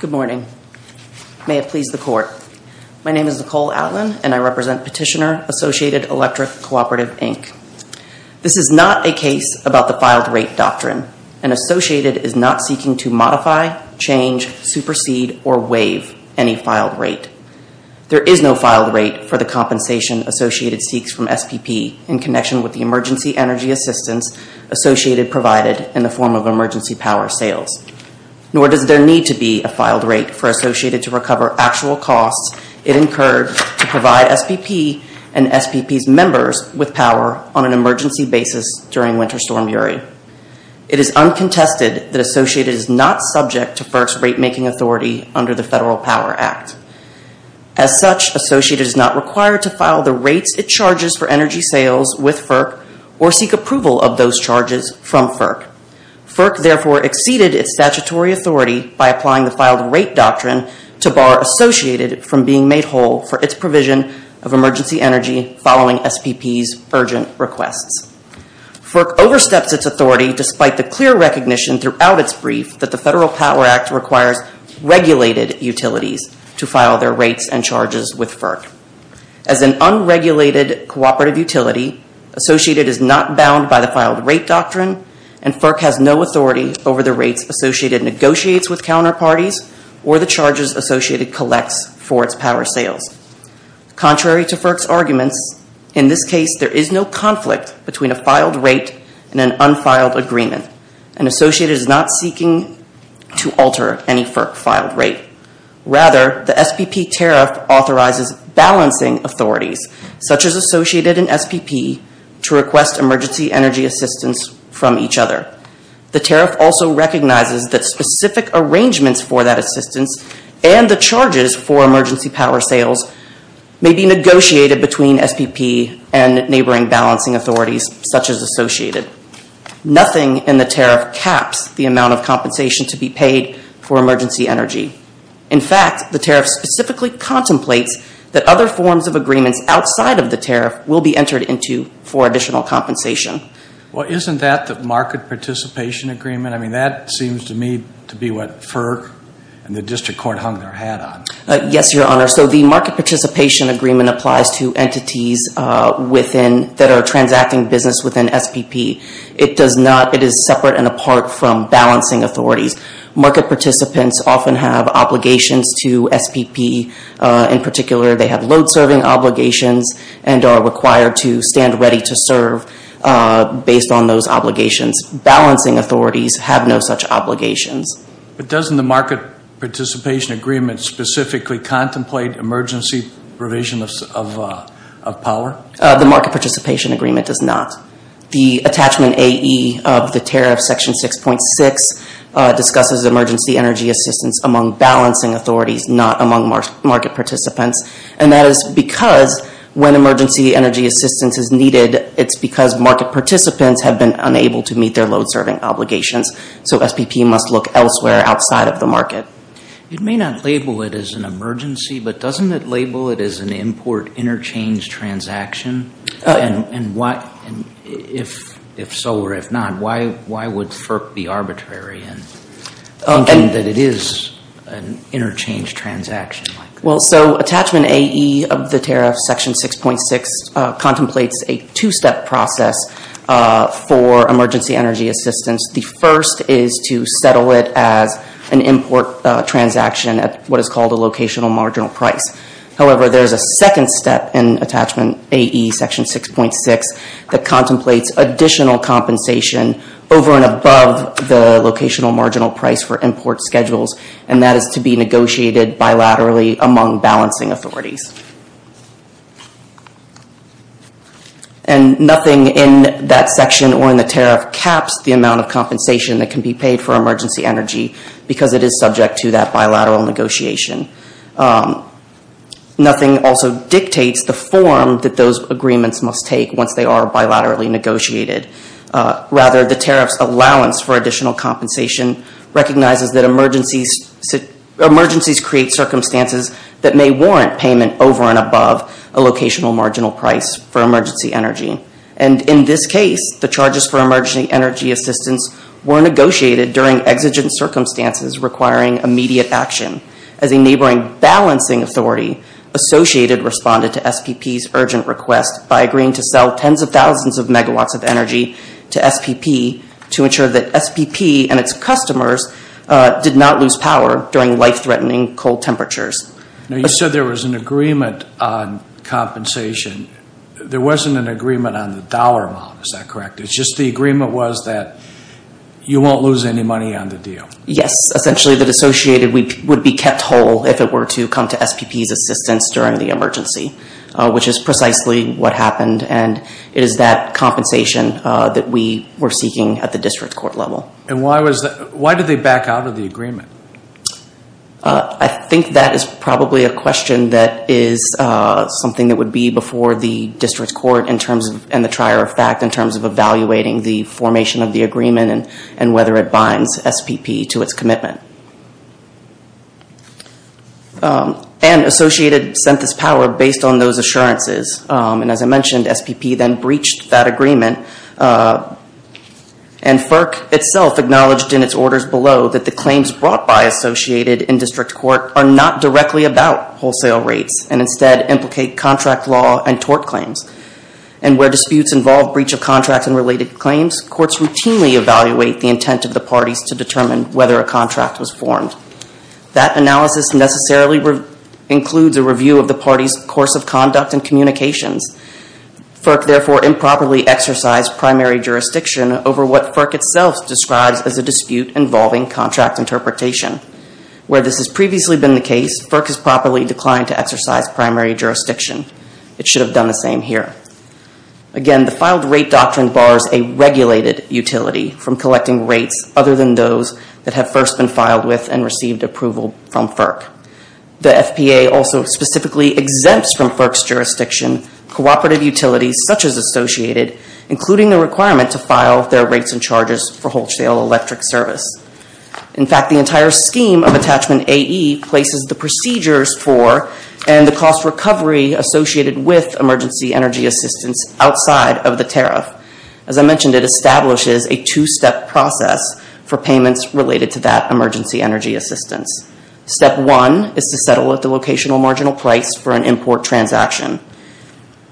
Good morning. May it please the Court. My name is Nicole Atlin, and I represent Petitioner Associated Electric Cooperative, Inc. This is not a case about the filed rate doctrine. An Associated is not seeking to modify, change, supersede, or waive any filed rate. There is no filed rate for the compensation Associated seeks from SPP in connection with the emergency energy assistance Associated provided in the form of emergency power sales. Nor does there need to be a filed rate for Associated to recover actual costs it incurred to provide SPP and SPP's members with power on an emergency basis during Winter Storm Yuri. It is uncontested that Associated is not subject to FERC's rate-making authority under the Federal Power Act. As such, Associated is not required to file the rates it charges for energy sales with FERC or seek approval of those charges from FERC. FERC therefore exceeded its statutory authority by applying the filed rate doctrine to bar Associated from being made whole for its provision of emergency energy following SPP's urgent requests. FERC oversteps its authority despite the clear recognition throughout its brief that the Federal Power Act requires regulated utilities to file their rates and charges with FERC. As an unregulated cooperative utility, Associated is not bound by the filed rate doctrine, and FERC has no authority over the rates Associated negotiates with counterparties or the charges Associated collects for its power sales. Contrary to FERC's arguments, in this case there is no conflict between a filed rate and an unfiled agreement, and Associated is not seeking to alter any FERC filed rate. Rather, the SPP tariff authorizes balancing authorities, such as Associated and SPP, to request emergency energy assistance from each other. The tariff also recognizes that specific arrangements for that assistance and the charges for emergency power sales may be negotiated between SPP and neighboring balancing authorities, such as Associated. Nothing in the tariff caps the amount of compensation to be paid for emergency energy. In fact, the tariff specifically contemplates that other forms of agreements outside of the tariff will be entered into for additional compensation. Well, isn't that the market participation agreement? I mean, that seems to me to be what FERC and the district court hung their hat on. Yes, Your Honor. So the market participation agreement applies to entities within, that are transacting business within SPP. It does not, it is separate and apart from balancing authorities. Market participants often have obligations to SPP. In particular, they have load serving obligations and are required to stand ready to serve based on those obligations. Balancing authorities have no such obligations. But doesn't the market participation agreement specifically contemplate emergency provision of power? The market participation agreement does not. The attachment AE of the tariff section 6.6 discusses emergency energy assistance among balancing authorities, not among market participants. And that is because when emergency energy assistance is needed, it's because market participants have been unable to meet their load serving obligations. So SPP must look elsewhere outside of the market. It may not label it as an emergency, but doesn't it label it as an import interchange transaction? If so or if not, why would FERC be arbitrary in thinking that it is an interchange transaction? So attachment AE of the tariff section 6.6 contemplates a two-step process for emergency energy assistance. The first is to settle it as an import transaction at what is called a locational marginal price. However, there is a second step in attachment AE section 6.6 that contemplates additional compensation over and above the locational marginal price for import schedules, and that is to be negotiated bilaterally among balancing authorities. And nothing in that section or in the tariff caps the amount of compensation that can be paid for emergency energy because it is subject to that bilateral negotiation. Nothing also dictates the form that those agreements must take once they are bilaterally negotiated. Rather, the tariff's allowance for additional compensation recognizes that emergencies create circumstances that may warrant payment over and above a locational marginal price for emergency energy. And in this case, the charges for emergency energy assistance were negotiated during exigent circumstances requiring immediate action as a neighboring balancing authority associated responded to SPP's urgent request by agreeing to sell tens of thousands of megawatts of energy to SPP to ensure that SPP and its customers did not lose power during life-threatening cold temperatures. Now, you said there was an agreement on compensation. There wasn't an agreement on the dollar amount, is that correct? It's just the agreement was that you won't lose any money on the deal. Yes, essentially the dissociated would be kept whole if it were to come to SPP's assistance during the emergency, which is precisely what happened and is that compensation that we were seeking at the district court level. Why did they back out of the agreement? I think that is probably a question that is something that would be before the district court in terms of evaluating the formation of the agreement and whether it binds SPP to its commitment. And associated sent this power based on those assurances. And as I mentioned, SPP then breached that agreement and FERC itself acknowledged in its orders below that the claims brought by associated in district court are not directly about wholesale rates and instead implicate contract law and tort claims. And where disputes involve breach of contract and related claims, courts routinely evaluate the intent of the parties to determine whether a contract was formed. That analysis necessarily includes a review of the parties course of conduct and communications. FERC therefore improperly exercised primary jurisdiction over what FERC itself describes as a dispute involving contract interpretation. Where this has previously been the case, FERC has properly declined to exercise primary jurisdiction. It should have done the same here. Again, the filed rate doctrine bars a regulated utility from collecting rates other than those that have first been filed with and received approval from FERC. The FPA also specifically exempts from FERC's jurisdiction cooperative utilities such as associated, including the requirement to file their rates and charges for wholesale electric service. In fact, the entire scheme of attachment AE places the procedures for and the cost recovery associated with emergency energy assistance outside of the tariff. As I mentioned, it establishes a two-step process for payments related to that emergency energy assistance. Step one is to settle at the locational marginal price for an import transaction.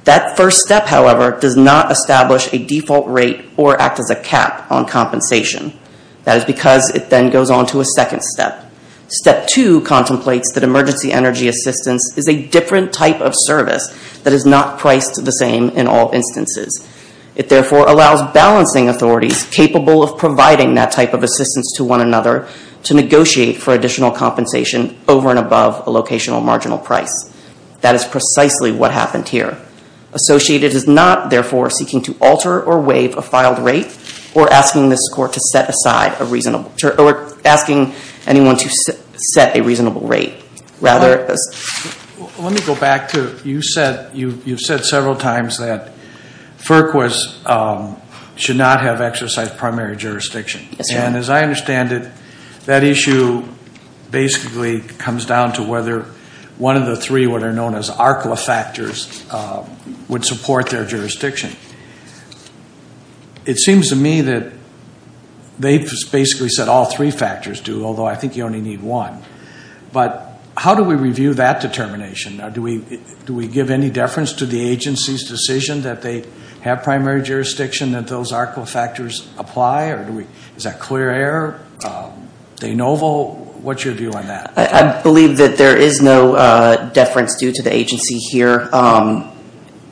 That first step, however, does not establish a default rate or act as a cap on compensation. That is because it then goes on to a second step. Step two contemplates that emergency energy assistance is a different type of service that is not priced the same in all instances. It therefore allows balancing authorities capable of providing that type of assistance to one another to negotiate for additional compensation over and above a locational marginal price. That is precisely what happened here. Associated is not, therefore, seeking to alter or waive a filed rate or asking this court to set aside a reasonable or asking anyone to set a reasonable rate. Let me go back. You said several times that FERC should not have exercise primary jurisdiction. As I understand it, that issue basically comes down to whether one of the three, what are known as ARCLA factors, would support their jurisdiction. It seems to me that they basically said all three factors do, although I think you only need one. How do we review that determination? Do we give any deference to the agency's decision that they have primary jurisdiction that those ARCLA factors apply? Is that clear error? De novo? What's your view on that? I believe that there is no deference due to the agency here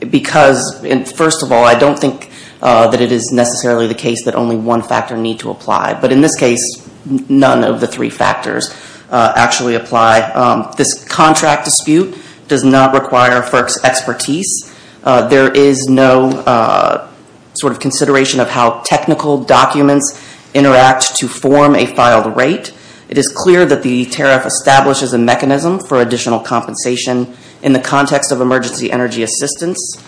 because, first of all, I don't think that it is necessarily the case that only one factor need to apply. But in this case, none of the three factors actually apply. This contract dispute does not require FERC's expertise. There is no sort of consideration of how technical documents interact to form a filed rate. It is clear that the tariff establishes a mechanism for additional compensation in the context of emergency energy assistance.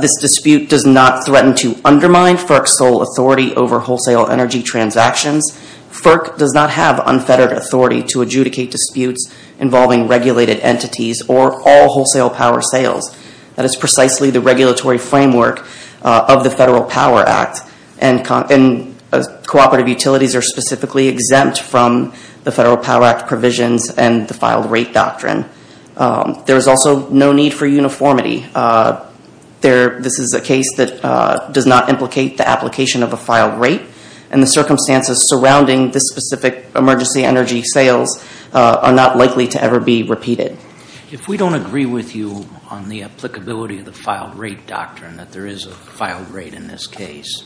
This dispute does not threaten to undermine FERC's sole authority over wholesale energy transactions. FERC does not have unfettered authority to adjudicate disputes involving regulated entities or all wholesale power sales. That is precisely the regulatory framework of the Federal Power Act. Cooperative utilities are specifically exempt from the Federal Power Act provisions and the filed rate doctrine. There is also no need for uniformity. This is a case that does not implicate the application of a filed rate, and the circumstances surrounding this specific emergency energy sales are not likely to ever be repeated. If we don't agree with you on the applicability of the filed rate doctrine, that there is a filed rate in this case,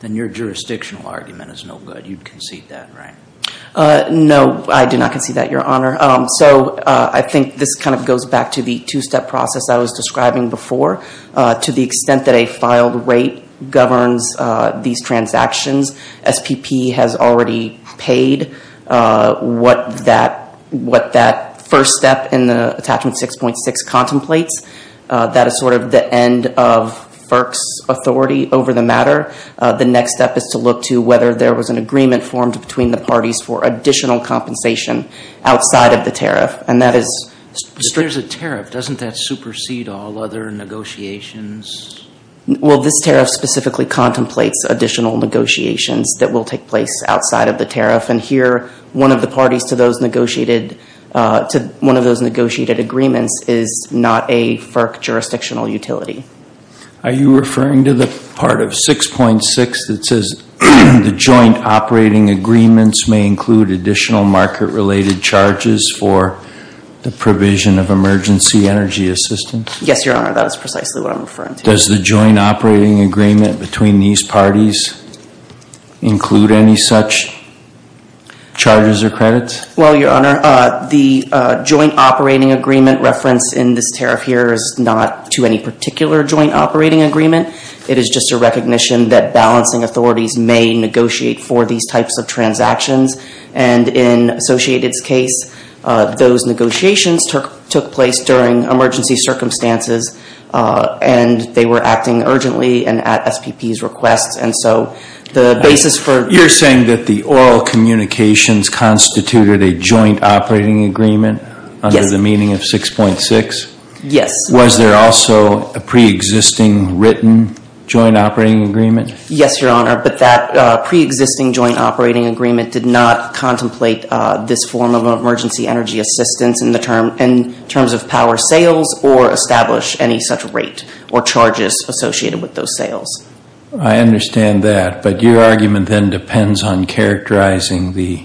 then your jurisdictional argument is no good. You'd concede that, right? No, I do not concede that, Your Honor. I think this kind of goes back to the two-step process I was describing before. To the extent that a filed rate governs these transactions, SPP has already paid what that first step in the Attachment 6.6 contemplates. That is sort of the end of FERC's authority over the matter. The next step is to look to whether there was an agreement formed between the parties for additional compensation outside of the tariff, and that is... If there's a tariff, doesn't that supersede all other negotiations? Well, this tariff specifically contemplates additional negotiations that will take place outside of the tariff, and here, one of the parties to one of those negotiated agreements is not a FERC jurisdictional utility. Are you referring to the part of 6.6 that says the joint operating agreements may include additional market-related charges for the provision of emergency energy assistance? Yes, Your Honor, that is precisely what I'm referring to. Does the joint operating agreement between these parties include any such charges or credits? Well, Your Honor, the joint operating agreement reference in this tariff here is not to any particular joint operating agreement. It is just a recognition that balancing authorities may negotiate for these types of transactions, and in Associated's case, those negotiations took place during emergency circumstances, and they were acting urgently and at SPP's requests, and so the basis for... Negotiations constituted a joint operating agreement under the meaning of 6.6? Yes. Was there also a pre-existing written joint operating agreement? Yes, Your Honor, but that pre-existing joint operating agreement did not contemplate this form of emergency energy assistance in terms of power sales or establish any such rate or charges associated with those sales. I understand that, but your argument then depends on characterizing the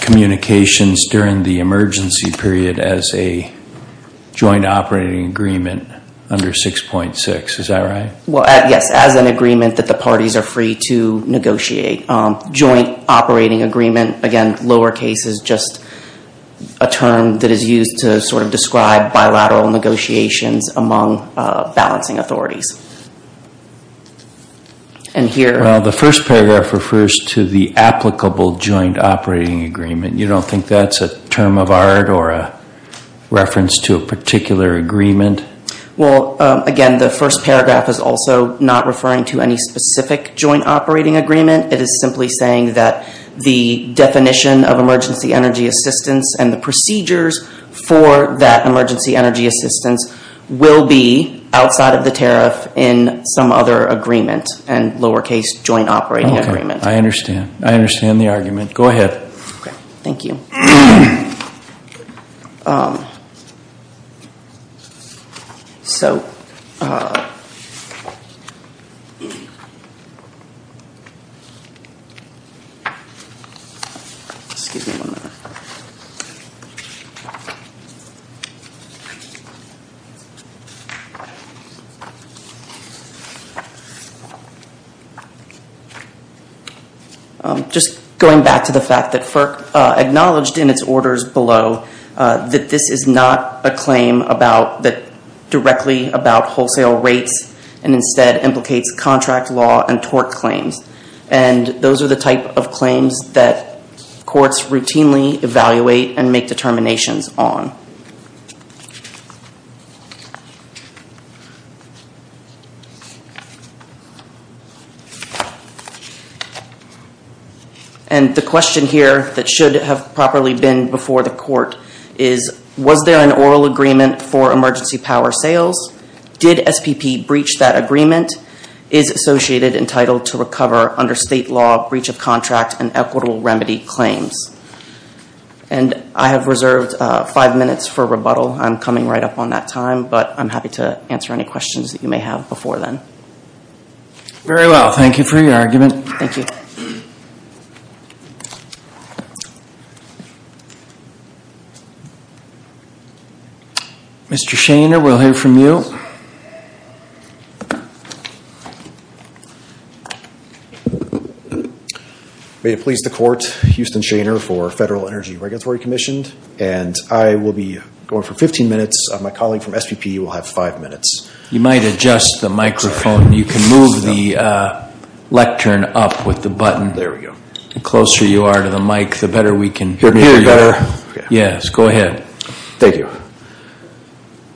communications during the emergency period as a joint operating agreement under 6.6. Is that right? Well, yes, as an agreement that the parties are free to negotiate. Joint operating agreement, again, lower case is just a term that is used to sort of describe bilateral negotiations among balancing authorities. Well, the first paragraph refers to the applicable joint operating agreement. You don't think that's a term of art or a reference to a particular agreement? Well, again, the first paragraph is also not referring to any specific joint operating agreement. It is simply saying that the definition of emergency energy assistance and the procedures for that emergency energy assistance will be outside of the tariff in some other agreement and lower case joint operating agreement. I understand. I understand the argument. Go ahead. Thank you. Just going back to the fact that FERC acknowledged in its orders below that this is not a claim directly about wholesale rates and instead implicates contract law and tort claims. Those are the type of claims that courts routinely evaluate and make determinations on. Thank you. And the question here that should have properly been before the court is, was there an oral agreement for emergency power sales? Did SPP breach that agreement? Is associated entitled to recover under state law breach of contract and equitable remedy claims? And I have reserved five minutes for rebuttal. I'm coming right up on that time, but I'm happy to answer any questions that you may have before then. Very well. Thank you for your argument. Thank you. Mr. Shainer, we'll hear from you. May it please the court, Houston Shainer for Federal Energy Regulatory Commission. And I will be going for 15 minutes. My colleague from SPP will have five minutes. You might adjust the microphone. You can move the lectern up with the button. There we go. The closer you are to the mic, the better we can hear you. Hear me better? Yes, go ahead. Thank you.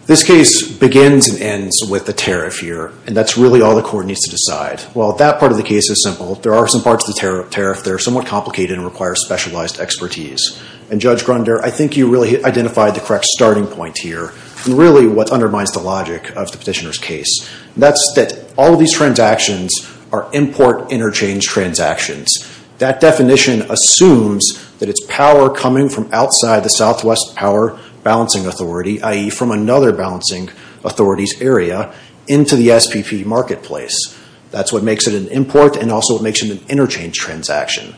This case begins and ends with the tariff here, and that's really all the court needs to decide. Well, that part of the case is simple. There are some parts of the tariff that are somewhat complicated and require specialized expertise. And Judge Grunder, I think you really identified the correct starting point here, and really what undermines the logic of the petitioner's case. That's that all of these transactions are import interchange transactions. That definition assumes that it's power coming from outside the Southwest Power Balancing Authority, i.e. from another balancing authority's area, into the SPP marketplace. That's what makes it an import, and also what makes it an interchange transaction.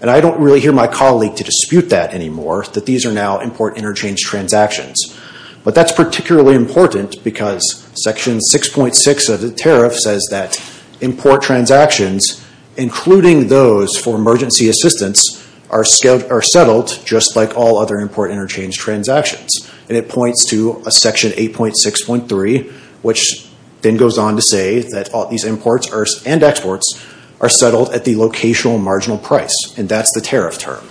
And I don't really hear my colleague to dispute that anymore, that these are now import interchange transactions. But that's particularly important because Section 6.6 of the tariff says that import interchange transactions, including those for emergency assistance, are settled just like all other import interchange transactions. And it points to Section 8.6.3, which then goes on to say that all these imports and exports are settled at the locational marginal price, and that's the tariff term.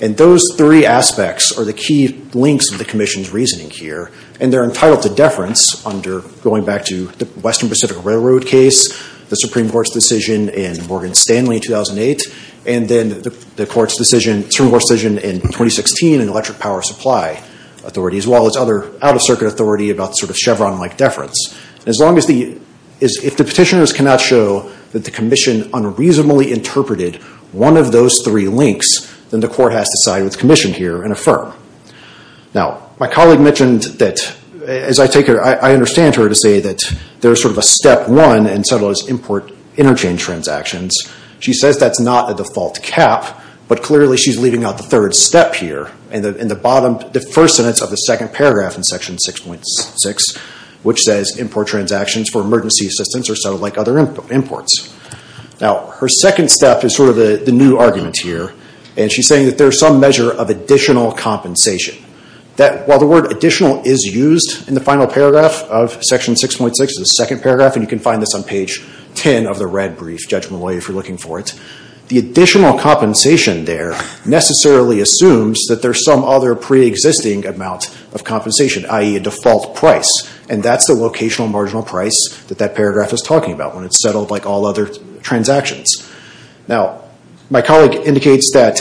And those three aspects are the key links of the Commission's reasoning here, and they're entitled to deference under, going back to the Western Pacific Railroad case, the Supreme Court's decision in Morgan Stanley in 2008, and then the Supreme Court's decision in 2016 in Electric Power Supply Authority, as well as other out-of-circuit authority about sort of Chevron-like deference. As long as the petitioners cannot show that the Commission unreasonably interpreted one of those three links, then the Court has to side with the Commission here and affirm. Now, my colleague mentioned that, as I take it, I understand her to say that there's sort of a step one in some of those import interchange transactions. She says that's not a default cap, but clearly she's leaving out the third step here, and the bottom, the first sentence of the second paragraph in Section 6.6, which says import transactions for emergency assistance are settled like other imports. Now, her second step is sort of the new argument here, and she's saying that there's some measure of additional compensation, that while the word additional is used in the final paragraph of Section 6.6, the second paragraph, and you can find this on page 10 of the red brief, Judge Malloy, if you're looking for it, the additional compensation there necessarily assumes that there's some other preexisting amount of compensation, i.e., a default price, and that's the locational marginal price that that paragraph is talking about when it's settled like all other transactions. Now, my colleague indicates that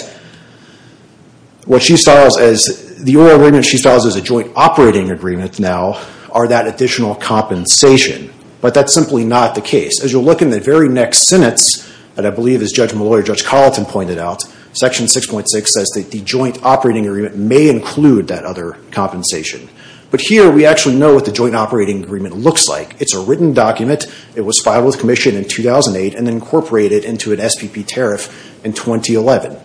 what she styles as, the oil agreement she styles as is not that additional compensation, but that's simply not the case. As you'll look in the very next sentence, and I believe as Judge Malloy or Judge Carlton pointed out, Section 6.6 says that the joint operating agreement may include that other compensation, but here we actually know what the joint operating agreement looks like. It's a written document. It was filed with commission in 2008 and incorporated into an SPP tariff in 2011.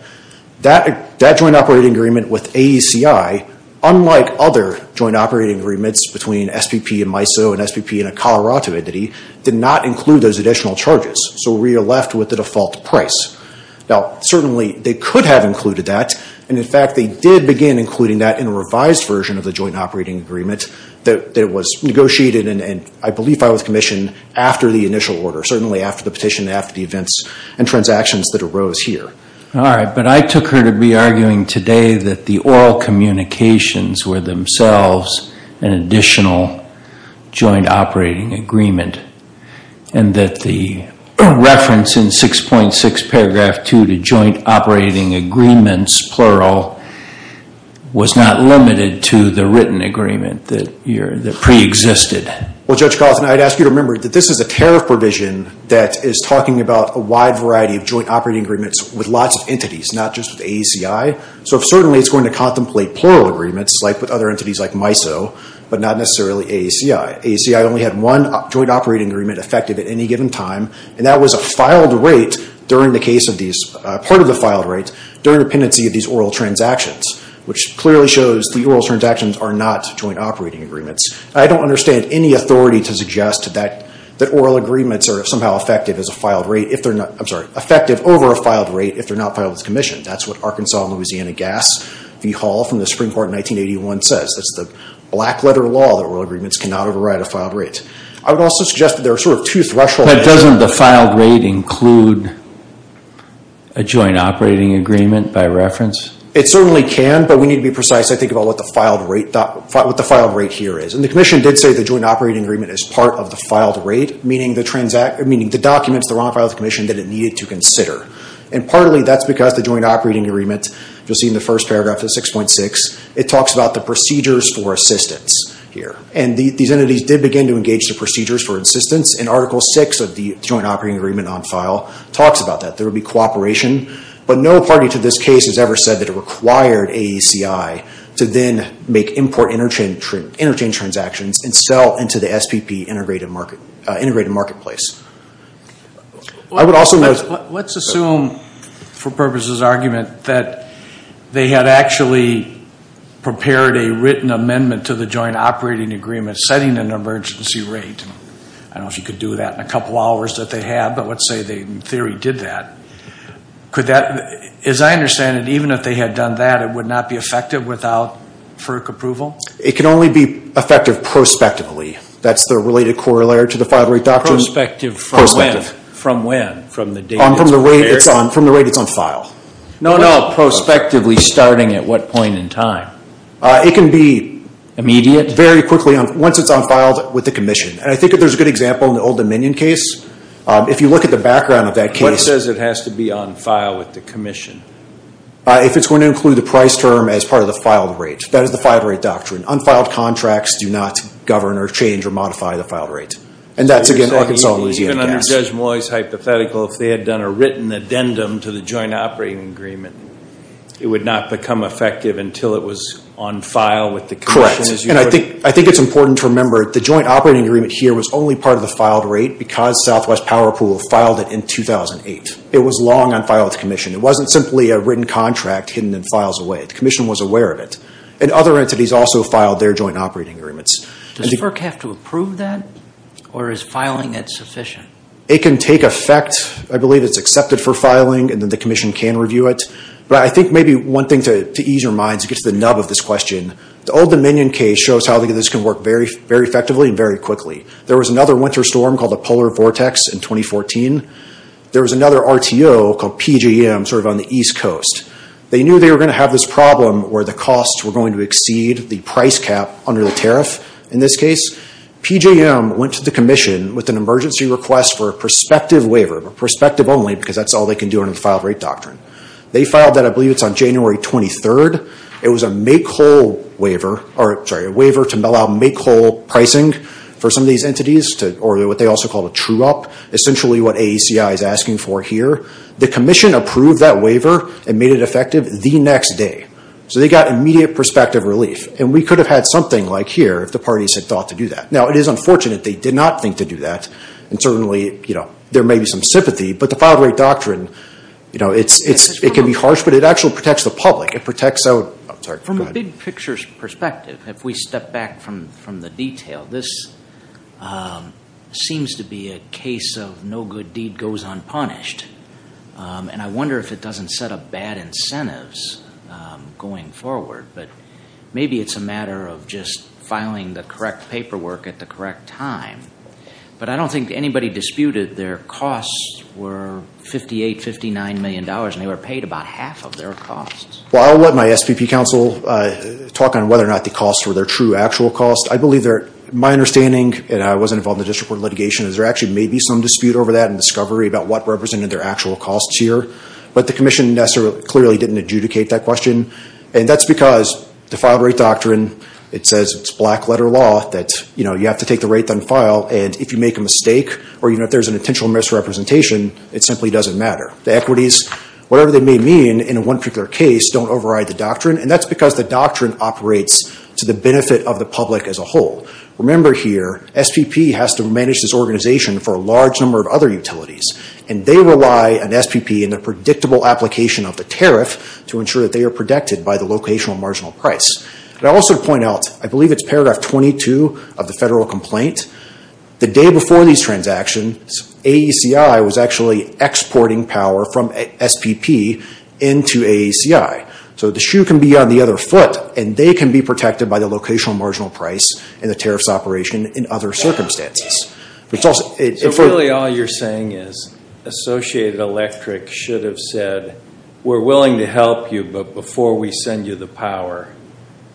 That joint operating agreement with AECI, unlike other joint operating agreements between an SPP and MISO, an SPP and a Colorado entity, did not include those additional charges, so we are left with the default price. Now, certainly they could have included that, and in fact they did begin including that in a revised version of the joint operating agreement that was negotiated and I believe filed with commission after the initial order, certainly after the petition, after the events and transactions that arose here. All right, but I took her to be arguing today that the oil communications were themselves an additional joint operating agreement and that the reference in 6.6 paragraph 2 to joint operating agreements, plural, was not limited to the written agreement that preexisted. Well, Judge Carlton, I'd ask you to remember that this is a tariff provision that is talking about a wide variety of joint operating agreements with lots of entities, not just with AECI, so certainly it's going to contemplate plural agreements like with other entities like MISO, but not necessarily AECI. AECI only had one joint operating agreement effective at any given time, and that was a filed rate during the case of these, part of the filed rate, during the pendency of these oil transactions, which clearly shows the oil transactions are not joint operating agreements. I don't understand any authority to suggest that oil agreements are somehow effective as a filed rate if they're not, I'm sorry, effective over a filed rate if they're not as Louisiana Gas v. Hall from the Supreme Court in 1981 says. That's the black letter law that oil agreements cannot override a filed rate. I would also suggest that there are sort of two thresholds. But doesn't the filed rate include a joint operating agreement by reference? It certainly can, but we need to be precise, I think, about what the filed rate here is. And the Commission did say the joint operating agreement is part of the filed rate, meaning the documents that are on file with the Commission that it needed to consider. And partly that's because the joint operating agreement, you'll see in the first paragraph of 6.6, it talks about the procedures for assistance here. And these entities did begin to engage the procedures for assistance, and Article 6 of the joint operating agreement on file talks about that. There will be cooperation, but no party to this case has ever said that it required AECI to then make import interchange transactions and sell into the SPP integrated marketplace. Let's assume, for purposes of argument, that they had actually prepared a written amendment to the joint operating agreement setting an emergency rate. I don't know if you could do that in a couple hours that they had, but let's say they in theory did that. As I understand it, even if they had done that, it would not be effective without FERC approval? It can only be effective prospectively. That's the related corollary to the filed rate doctrine. Prospective from when? From the date it's prepared? From the rate it's on file. No, no. Prospectively starting at what point in time? It can be very quickly once it's on file with the commission. And I think there's a good example in the Old Dominion case. If you look at the background of that case. What says it has to be on file with the commission? If it's going to include the price term as part of the filed rate. That is the filed rate doctrine. Unfiled contracts do not govern or change or modify the filed rate. And that's, again, Arkansas and Louisiana. Even under Judge Moy's hypothetical, if they had done a written addendum to the joint operating agreement, it would not become effective until it was on file with the commission? Correct. And I think it's important to remember the joint operating agreement here was only part of the filed rate because Southwest Power Pool filed it in 2008. It was long on file with the commission. It wasn't simply a written contract hidden in files away. The commission was aware of it. And other entities also filed their joint operating agreements. Does FERC have to approve that? Or is filing it sufficient? It can take effect. I believe it's accepted for filing and then the commission can review it. But I think maybe one thing to ease your mind is to get to the nub of this question. The Old Dominion case shows how this can work very effectively and very quickly. There was another winter storm called the Polar Vortex in 2014. There was another RTO called PJM sort of on the East Coast. They knew they were going to have this problem where the costs were going to exceed the price cap under the tariff in this case. PJM went to the commission with an emergency request for a prospective waiver, but prospective only because that's all they can do under the filed rate doctrine. They filed that, I believe it's on January 23rd. It was a waiver to allow make whole pricing for some of these entities or what they also call a true up, essentially what AACI is asking for here. The commission approved that waiver and made it effective the next day. So they got immediate prospective relief. And we could have had something like here if the parties had thought to do that. Now, it is unfortunate they did not think to do that. And certainly there may be some sympathy, but the filed rate doctrine, it can be harsh, but it actually protects the public. It protects out, I'm sorry, go ahead. From a big picture perspective, if we step back from the detail, this seems to be a case of no good deed goes unpunished. And I wonder if it doesn't set up bad incentives going forward. But maybe it's a matter of just filing the correct paperwork at the correct time. But I don't think anybody disputed their costs were $58, $59 million, and they were paid about half of their costs. Well, I'll let my SPP counsel talk on whether or not the costs were their true actual costs. I believe my understanding, and I wasn't involved in the district court litigation, is there actually may be some dispute over that and discovery about what represented their actual costs here. But the commission clearly didn't adjudicate that question. And that's because the filed rate doctrine, it says it's black letter law, that you have to take the rate, then file. And if you make a mistake or if there's an intentional misrepresentation, it simply doesn't matter. The equities, whatever they may mean in one particular case, don't override the doctrine. And that's because the doctrine operates to the benefit of the public as a whole. Remember here, SPP has to manage this organization for a large number of other utilities. And they rely on SPP and the predictable application of the tariff to ensure that they are protected by the locational marginal price. And I'll also point out, I believe it's paragraph 22 of the federal complaint, the day before these transactions, AECI was actually exporting power from SPP into AECI. So the shoe can be on the other foot, and they can be protected by the locational marginal price and the tariffs operation in other circumstances. So really all you're saying is Associated Electric should have said, we're willing to help you, but before we send you the power,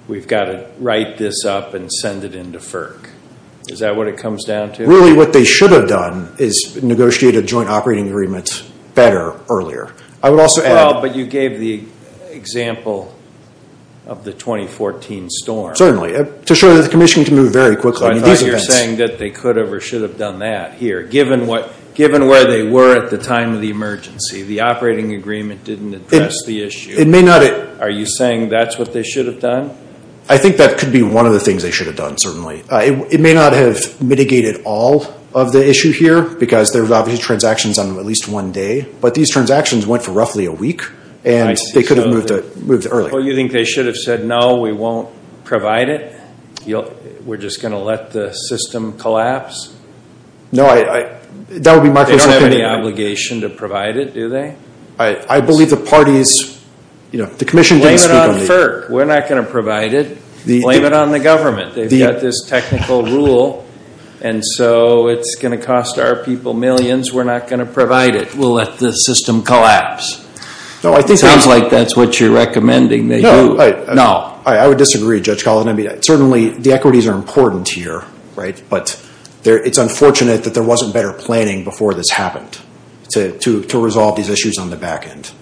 we've got to write this up and send it in to FERC. Is that what it comes down to? Really what they should have done is negotiated a joint operating agreement better earlier. But you gave the example of the 2014 storm. Certainly. To show that the commission can move very quickly. I thought you were saying that they could have or should have done that here. Given where they were at the time of the emergency, the operating agreement didn't address the issue. Are you saying that's what they should have done? I think that could be one of the things they should have done, certainly. It may not have mitigated all of the issue here, because there were obviously transactions on at least one day. But these transactions went for roughly a week, and they could have moved earlier. Well, you think they should have said, no, we won't provide it? We're just going to let the system collapse? No, that would be my personal opinion. They don't have any obligation to provide it, do they? I believe the parties, you know, the commission didn't speak on the issue. Blame it on FERC. We're not going to provide it. Blame it on the government. They've got this technical rule, and so it's going to cost our people millions. We're not going to provide it. We'll let the system collapse. It sounds like that's what you're recommending they do. No. I would disagree, Judge Collins. Certainly, the equities are important here, right? But it's unfortunate that there wasn't better planning before this happened to resolve these issues on the back end.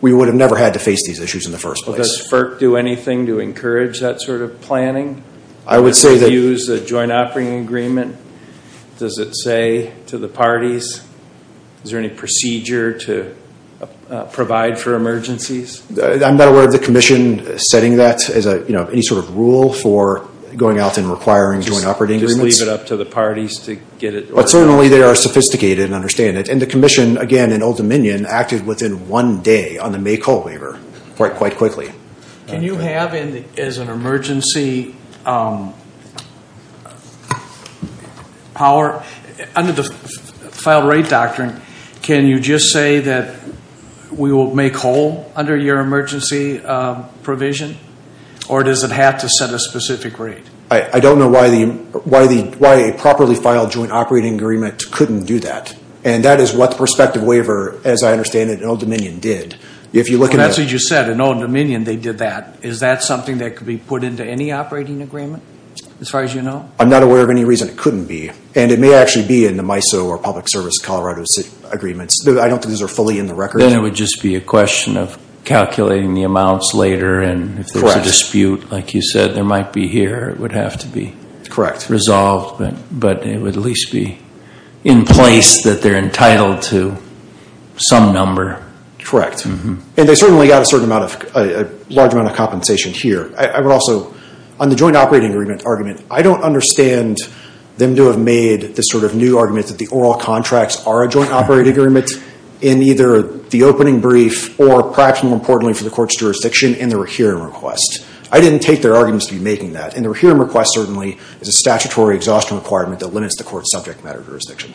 We would have never had to face these issues in the first place. Does FERC do anything to encourage that sort of planning? I would say that Use a joint operating agreement. Does it say to the parties? Is there any procedure to provide for emergencies? I'm not aware of the commission setting that as a, you know, any sort of rule for going out and requiring joint operating agreements. Just leave it up to the parties to get it? But certainly, they are sophisticated and understand it. And the commission, again, in Old Dominion, acted within one day on the May call waiver quite quickly. Can you have, as an emergency, under the file rate doctrine, can you just say that we will make whole under your emergency provision? Or does it have to set a specific rate? I don't know why a properly filed joint operating agreement couldn't do that. And that is what the prospective waiver, as I understand it, in Old Dominion did. That's what you said. In Old Dominion, they did that. Is that something that could be put into any operating agreement, as far as you know? I'm not aware of any reason it couldn't be. And it may actually be in the MISO or public service Colorado agreements. I don't think those are fully in the record. Then it would just be a question of calculating the amounts later. And if there's a dispute, like you said, there might be here. It would have to be resolved. But it would at least be in place that they're entitled to some number. Correct. And they certainly got a large amount of compensation here. I would also, on the joint operating agreement argument, I don't understand them to have made this sort of new argument that the oral contracts are a joint operating agreement in either the opening brief or perhaps more importantly for the court's jurisdiction in the rehearing request. I didn't take their arguments to be making that. And the rehearing request certainly is a statutory exhaustion requirement that limits the court's subject matter jurisdiction.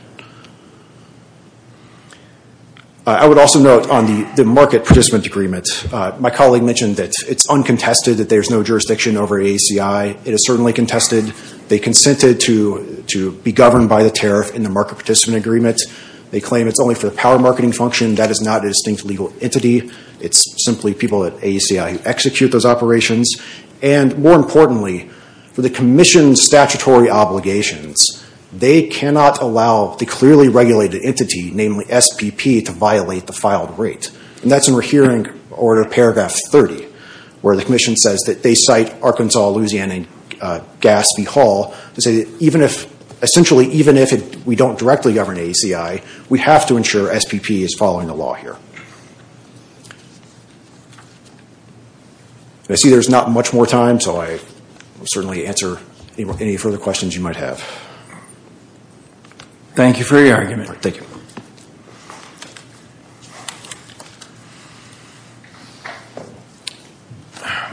I would also note on the market participant agreement, my colleague mentioned that it's uncontested that there's no jurisdiction over AACI. It is certainly contested. They consented to be governed by the tariff in the market participant agreement. They claim it's only for the power marketing function. That is not a distinct legal entity. It's simply people at AACI who execute those operations. And more importantly, for the commission's statutory obligations, they cannot allow the clearly regulated entity, namely SPP, to violate the filed rate. And that's in rehearing order paragraph 30, where the commission says that they cite Arkansas, Louisiana, and Gatsby Hall to say that even if, essentially, even if we don't directly govern AACI, we have to ensure SPP is following the law here. I see there's not much more time, so I will certainly answer any further questions you might have. Thank you for your argument. Thank you.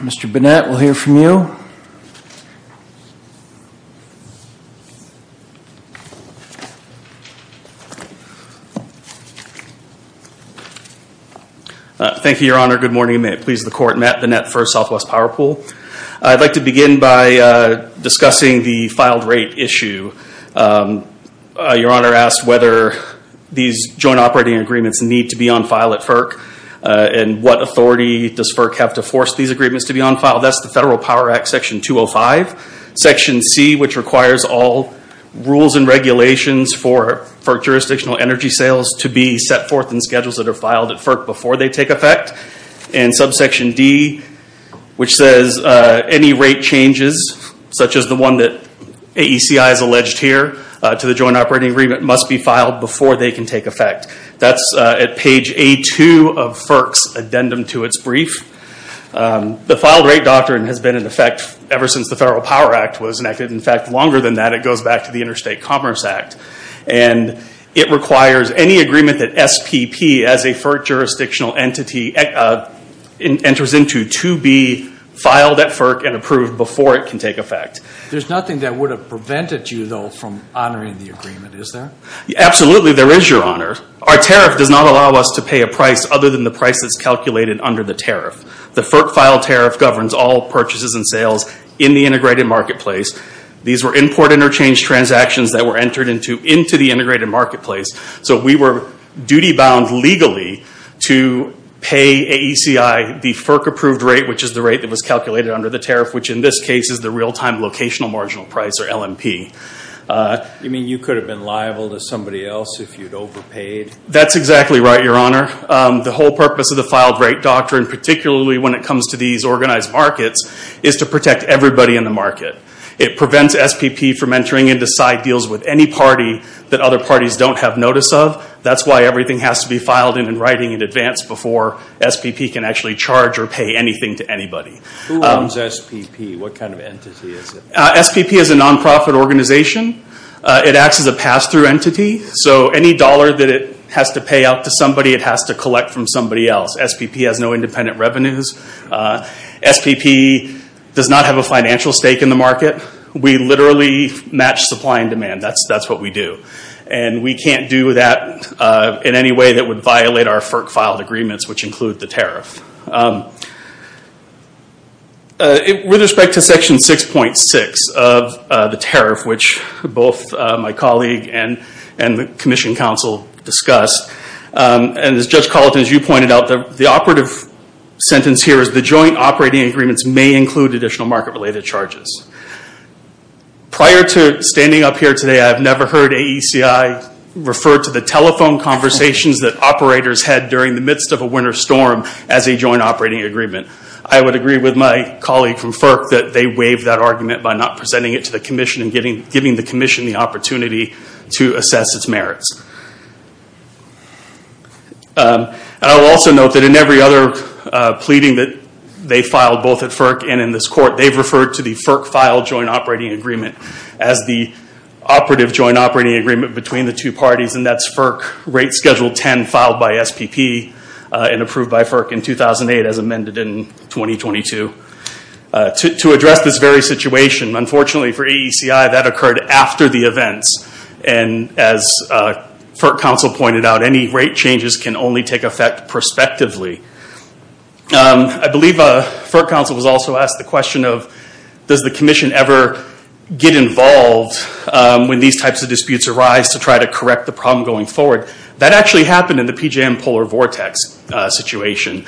Mr. Bennett, we'll hear from you. Thank you, Your Honor. Good morning. May it please the Court, Matt Bennett for Southwest Power Pool. I'd like to begin by discussing the filed rate issue. Your Honor asked whether these joint operating agreements need to be on file at FERC and what authority does FERC have to force these agreements to be on file. That's the Federal Power Act Section 205, Section C, which requires all rules and regulations for jurisdictional energy sales to be set forth in schedules that are filed at FERC before they take effect. And Subsection D, which says any rate changes, such as the one that AACI has alleged here to the joint operating agreement, must be filed before they can take effect. That's at page A2 of FERC's addendum to its brief. The filed rate doctrine has been in effect ever since the Federal Power Act was enacted. In fact, longer than that, it goes back to the Interstate Commerce Act. And it requires any agreement that SPP, as a FERC jurisdictional entity, enters into to be filed at FERC and approved before it can take effect. There's nothing that would have prevented you, though, from honoring the agreement, is there? Absolutely, there is, Your Honor. Our tariff does not allow us to pay a price other than the price that's calculated under the tariff. The FERC filed tariff governs all purchases and sales in the integrated marketplace. These were import interchange transactions that were entered into the integrated marketplace. So we were duty-bound legally to pay AACI the FERC-approved rate, which is the rate that was calculated under the tariff, which in this case is the real-time locational marginal price, or LMP. You mean you could have been liable to somebody else if you'd overpaid? That's exactly right, Your Honor. The whole purpose of the filed rate doctrine, particularly when it comes to these organized markets, is to protect everybody in the market. It prevents SPP from entering into side deals with any party that other parties don't have notice of. That's why everything has to be filed in and writing in advance before SPP can actually charge or pay anything to anybody. Who owns SPP? What kind of entity is it? SPP is a nonprofit organization. It acts as a pass-through entity. So any dollar that it has to pay out to somebody, it has to collect from somebody else. SPP has no independent revenues. SPP does not have a financial stake in the market. We literally match supply and demand. That's what we do. And we can't do that in any way that would violate our FERC-filed agreements, which include the tariff. With respect to Section 6.6 of the tariff, which both my colleague and the Commission Counsel discussed, and as Judge Colleton, as you pointed out, the operative sentence here is the joint operating agreements may include additional market-related charges. Prior to standing up here today, I have never heard AECI refer to the telephone conversations that operators had during the midst of a winter storm as a joint operating agreement. I would agree with my colleague from FERC that they waived that argument by not presenting it to the Commission and giving the Commission the opportunity to assess its merits. I will also note that in every other pleading that they filed, both at FERC and in this Court, they've referred to the FERC-filed joint operating agreement as the operative joint operating agreement between the two parties, and that's FERC Rate Schedule 10 filed by SPP and approved by FERC in 2008 as amended in 2022. To address this very situation, unfortunately for AECI, that occurred after the events. As FERC counsel pointed out, any rate changes can only take effect prospectively. I believe FERC counsel was also asked the question of, does the Commission ever get involved when these types of disputes arise to try to correct the problem going forward? That actually happened in the PJM polar vortex situation.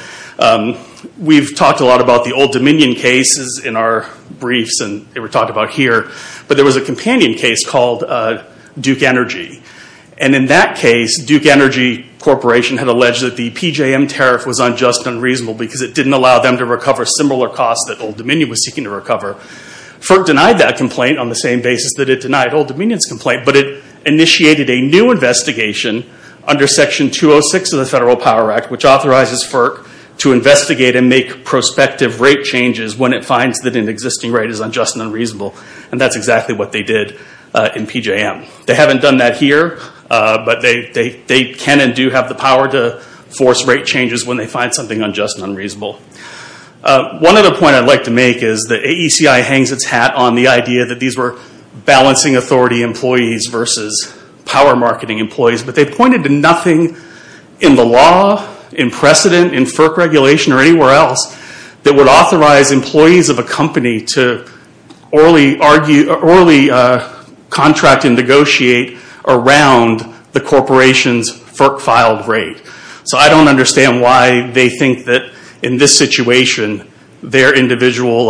We've talked a lot about the Old Dominion cases in our briefs, and they were talked about here, but there was a companion case called Duke Energy. In that case, Duke Energy Corporation had alleged that the PJM tariff was unjust and unreasonable because it didn't allow them to recover similar costs that Old Dominion was seeking to recover. FERC denied that complaint on the same basis that it denied Old Dominion's complaint, but it initiated a new investigation under Section 206 of the Federal Power Act, which authorizes FERC to investigate and make prospective rate changes when it finds that an existing rate is unjust and unreasonable. That's exactly what they did in PJM. They haven't done that here, but they can and do have the power to force rate changes when they find something unjust and unreasonable. One other point I'd like to make is that AECI hangs its hat on the idea that these were balancing authority employees versus power marketing employees, but they pointed to nothing in the law, in precedent, in FERC regulation, or anywhere else that would authorize employees of a company to orally contract and negotiate around the corporation's FERC-filed rate. I don't understand why they think that in this situation, their individual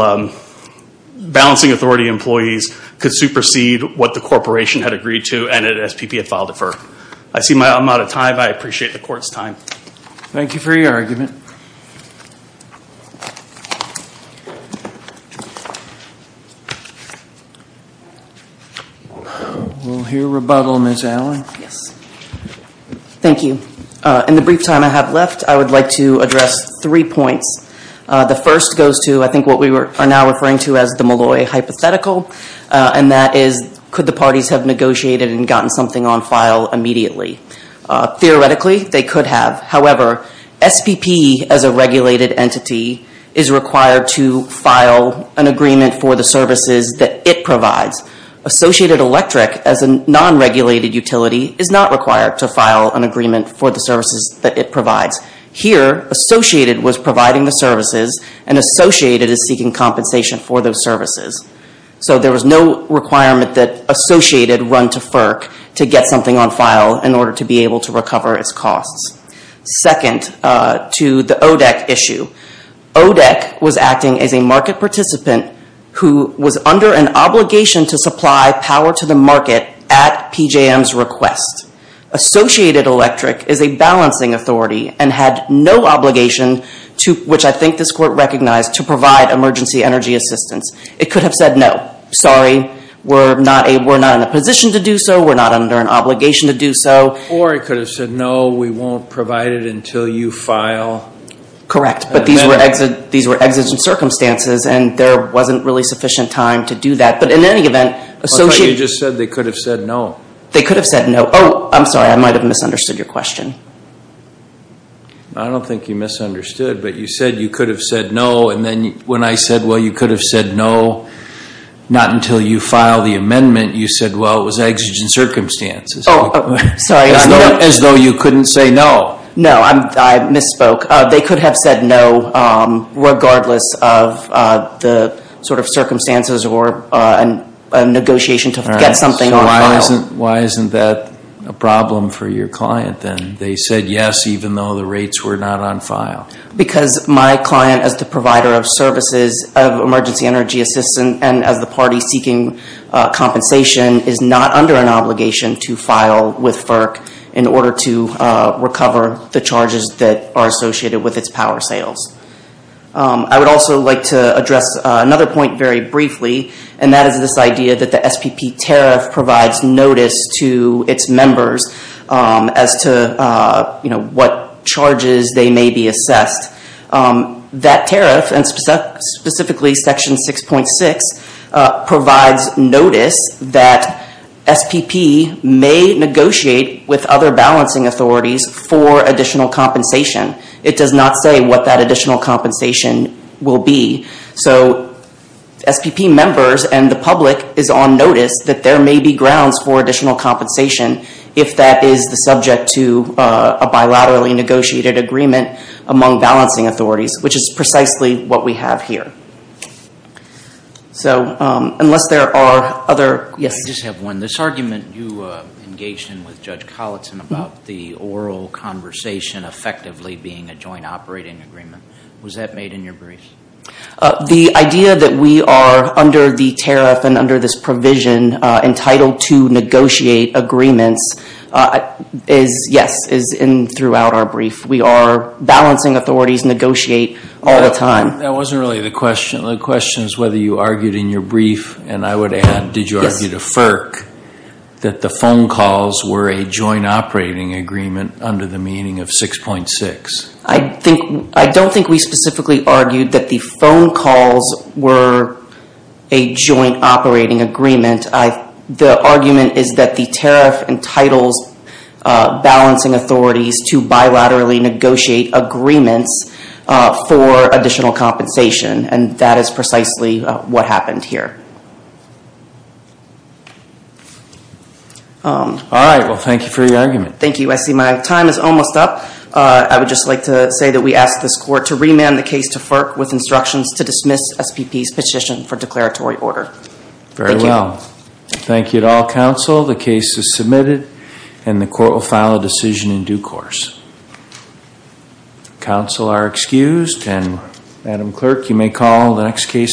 balancing authority employees could supersede what the corporation had agreed to and that SPP had filed a FERC. I see I'm out of time. I appreciate the court's time. Thank you for your argument. We'll hear rebuttal, Ms. Allen. Yes. Thank you. In the brief time I have left, I would like to address three points. The first goes to, I think, what we are now referring to as the Malloy hypothetical, and that is could the parties have negotiated and gotten something on file immediately? Theoretically, they could have. However, SPP, as a regulated entity, is required to file an agreement for the services that it provides. Associated Electric, as a non-regulated utility, is not required to file an agreement for the services that it provides. Here, Associated was providing the services, and Associated is seeking compensation for those services. So there was no requirement that Associated run to FERC to get something on file in order to be able to recover its costs. Second, to the ODEC issue, ODEC was acting as a market participant who was under an obligation to supply power to the market at PJM's request. Associated Electric is a balancing authority and had no obligation, which I think this court recognized, to provide emergency energy assistance. It could have said, no, sorry, we're not in a position to do so, we're not under an obligation to do so. Or it could have said, no, we won't provide it until you file an amendment. Correct, but these were exigent circumstances, and there wasn't really sufficient time to do that. But in any event, Associated... You just said they could have said no. They could have said no. Oh, I'm sorry, I might have misunderstood your question. I don't think you misunderstood, but you said you could have said no, and then when I said, well, you could have said no, not until you file the amendment, you said, well, it was exigent circumstances. Oh, sorry. As though you couldn't say no. No, I misspoke. They could have said no, regardless of the sort of circumstances or a negotiation to get something on file. All right, so why isn't that a problem for your client then? They said yes, even though the rates were not on file. Because my client, as the provider of services of emergency energy assistance, and as the party seeking compensation, is not under an obligation to file with FERC in order to recover the charges that are associated with its power sales. I would also like to address another point very briefly, and that is this idea that the SPP tariff provides notice to its members as to what charges they may be assessed. That tariff, and specifically Section 6.6, provides notice that SPP may negotiate with other balancing authorities for additional compensation. It does not say what that additional compensation will be. So SPP members and the public is on notice that there may be grounds for additional compensation if that is the subject to a bilaterally negotiated agreement among balancing authorities, which is precisely what we have here. Unless there are other questions. I just have one. This argument you engaged in with Judge Colleton about the oral conversation effectively being a joint operating agreement, was that made in your brief? The idea that we are, under the tariff and under this provision, entitled to negotiate agreements is, yes, throughout our brief. We are balancing authorities, negotiate all the time. That wasn't really the question. The question is whether you argued in your brief, and I would add, did you argue to FERC, that the phone calls were a joint operating agreement under the meaning of 6.6? I don't think we specifically argued that the phone calls were a joint operating agreement. The argument is that the tariff entitles balancing authorities to bilaterally negotiate agreements for additional compensation, and that is precisely what happened here. All right. Well, thank you for your argument. Thank you. I see my time is almost up. I would just like to say that we ask this court to remand the case to FERC with instructions to dismiss SPP's petition for declaratory order. Thank you. Very well. Thank you to all counsel. The case is submitted, and the court will file a decision in due course. Counsel are excused, and Madam Clerk, you may call the next case.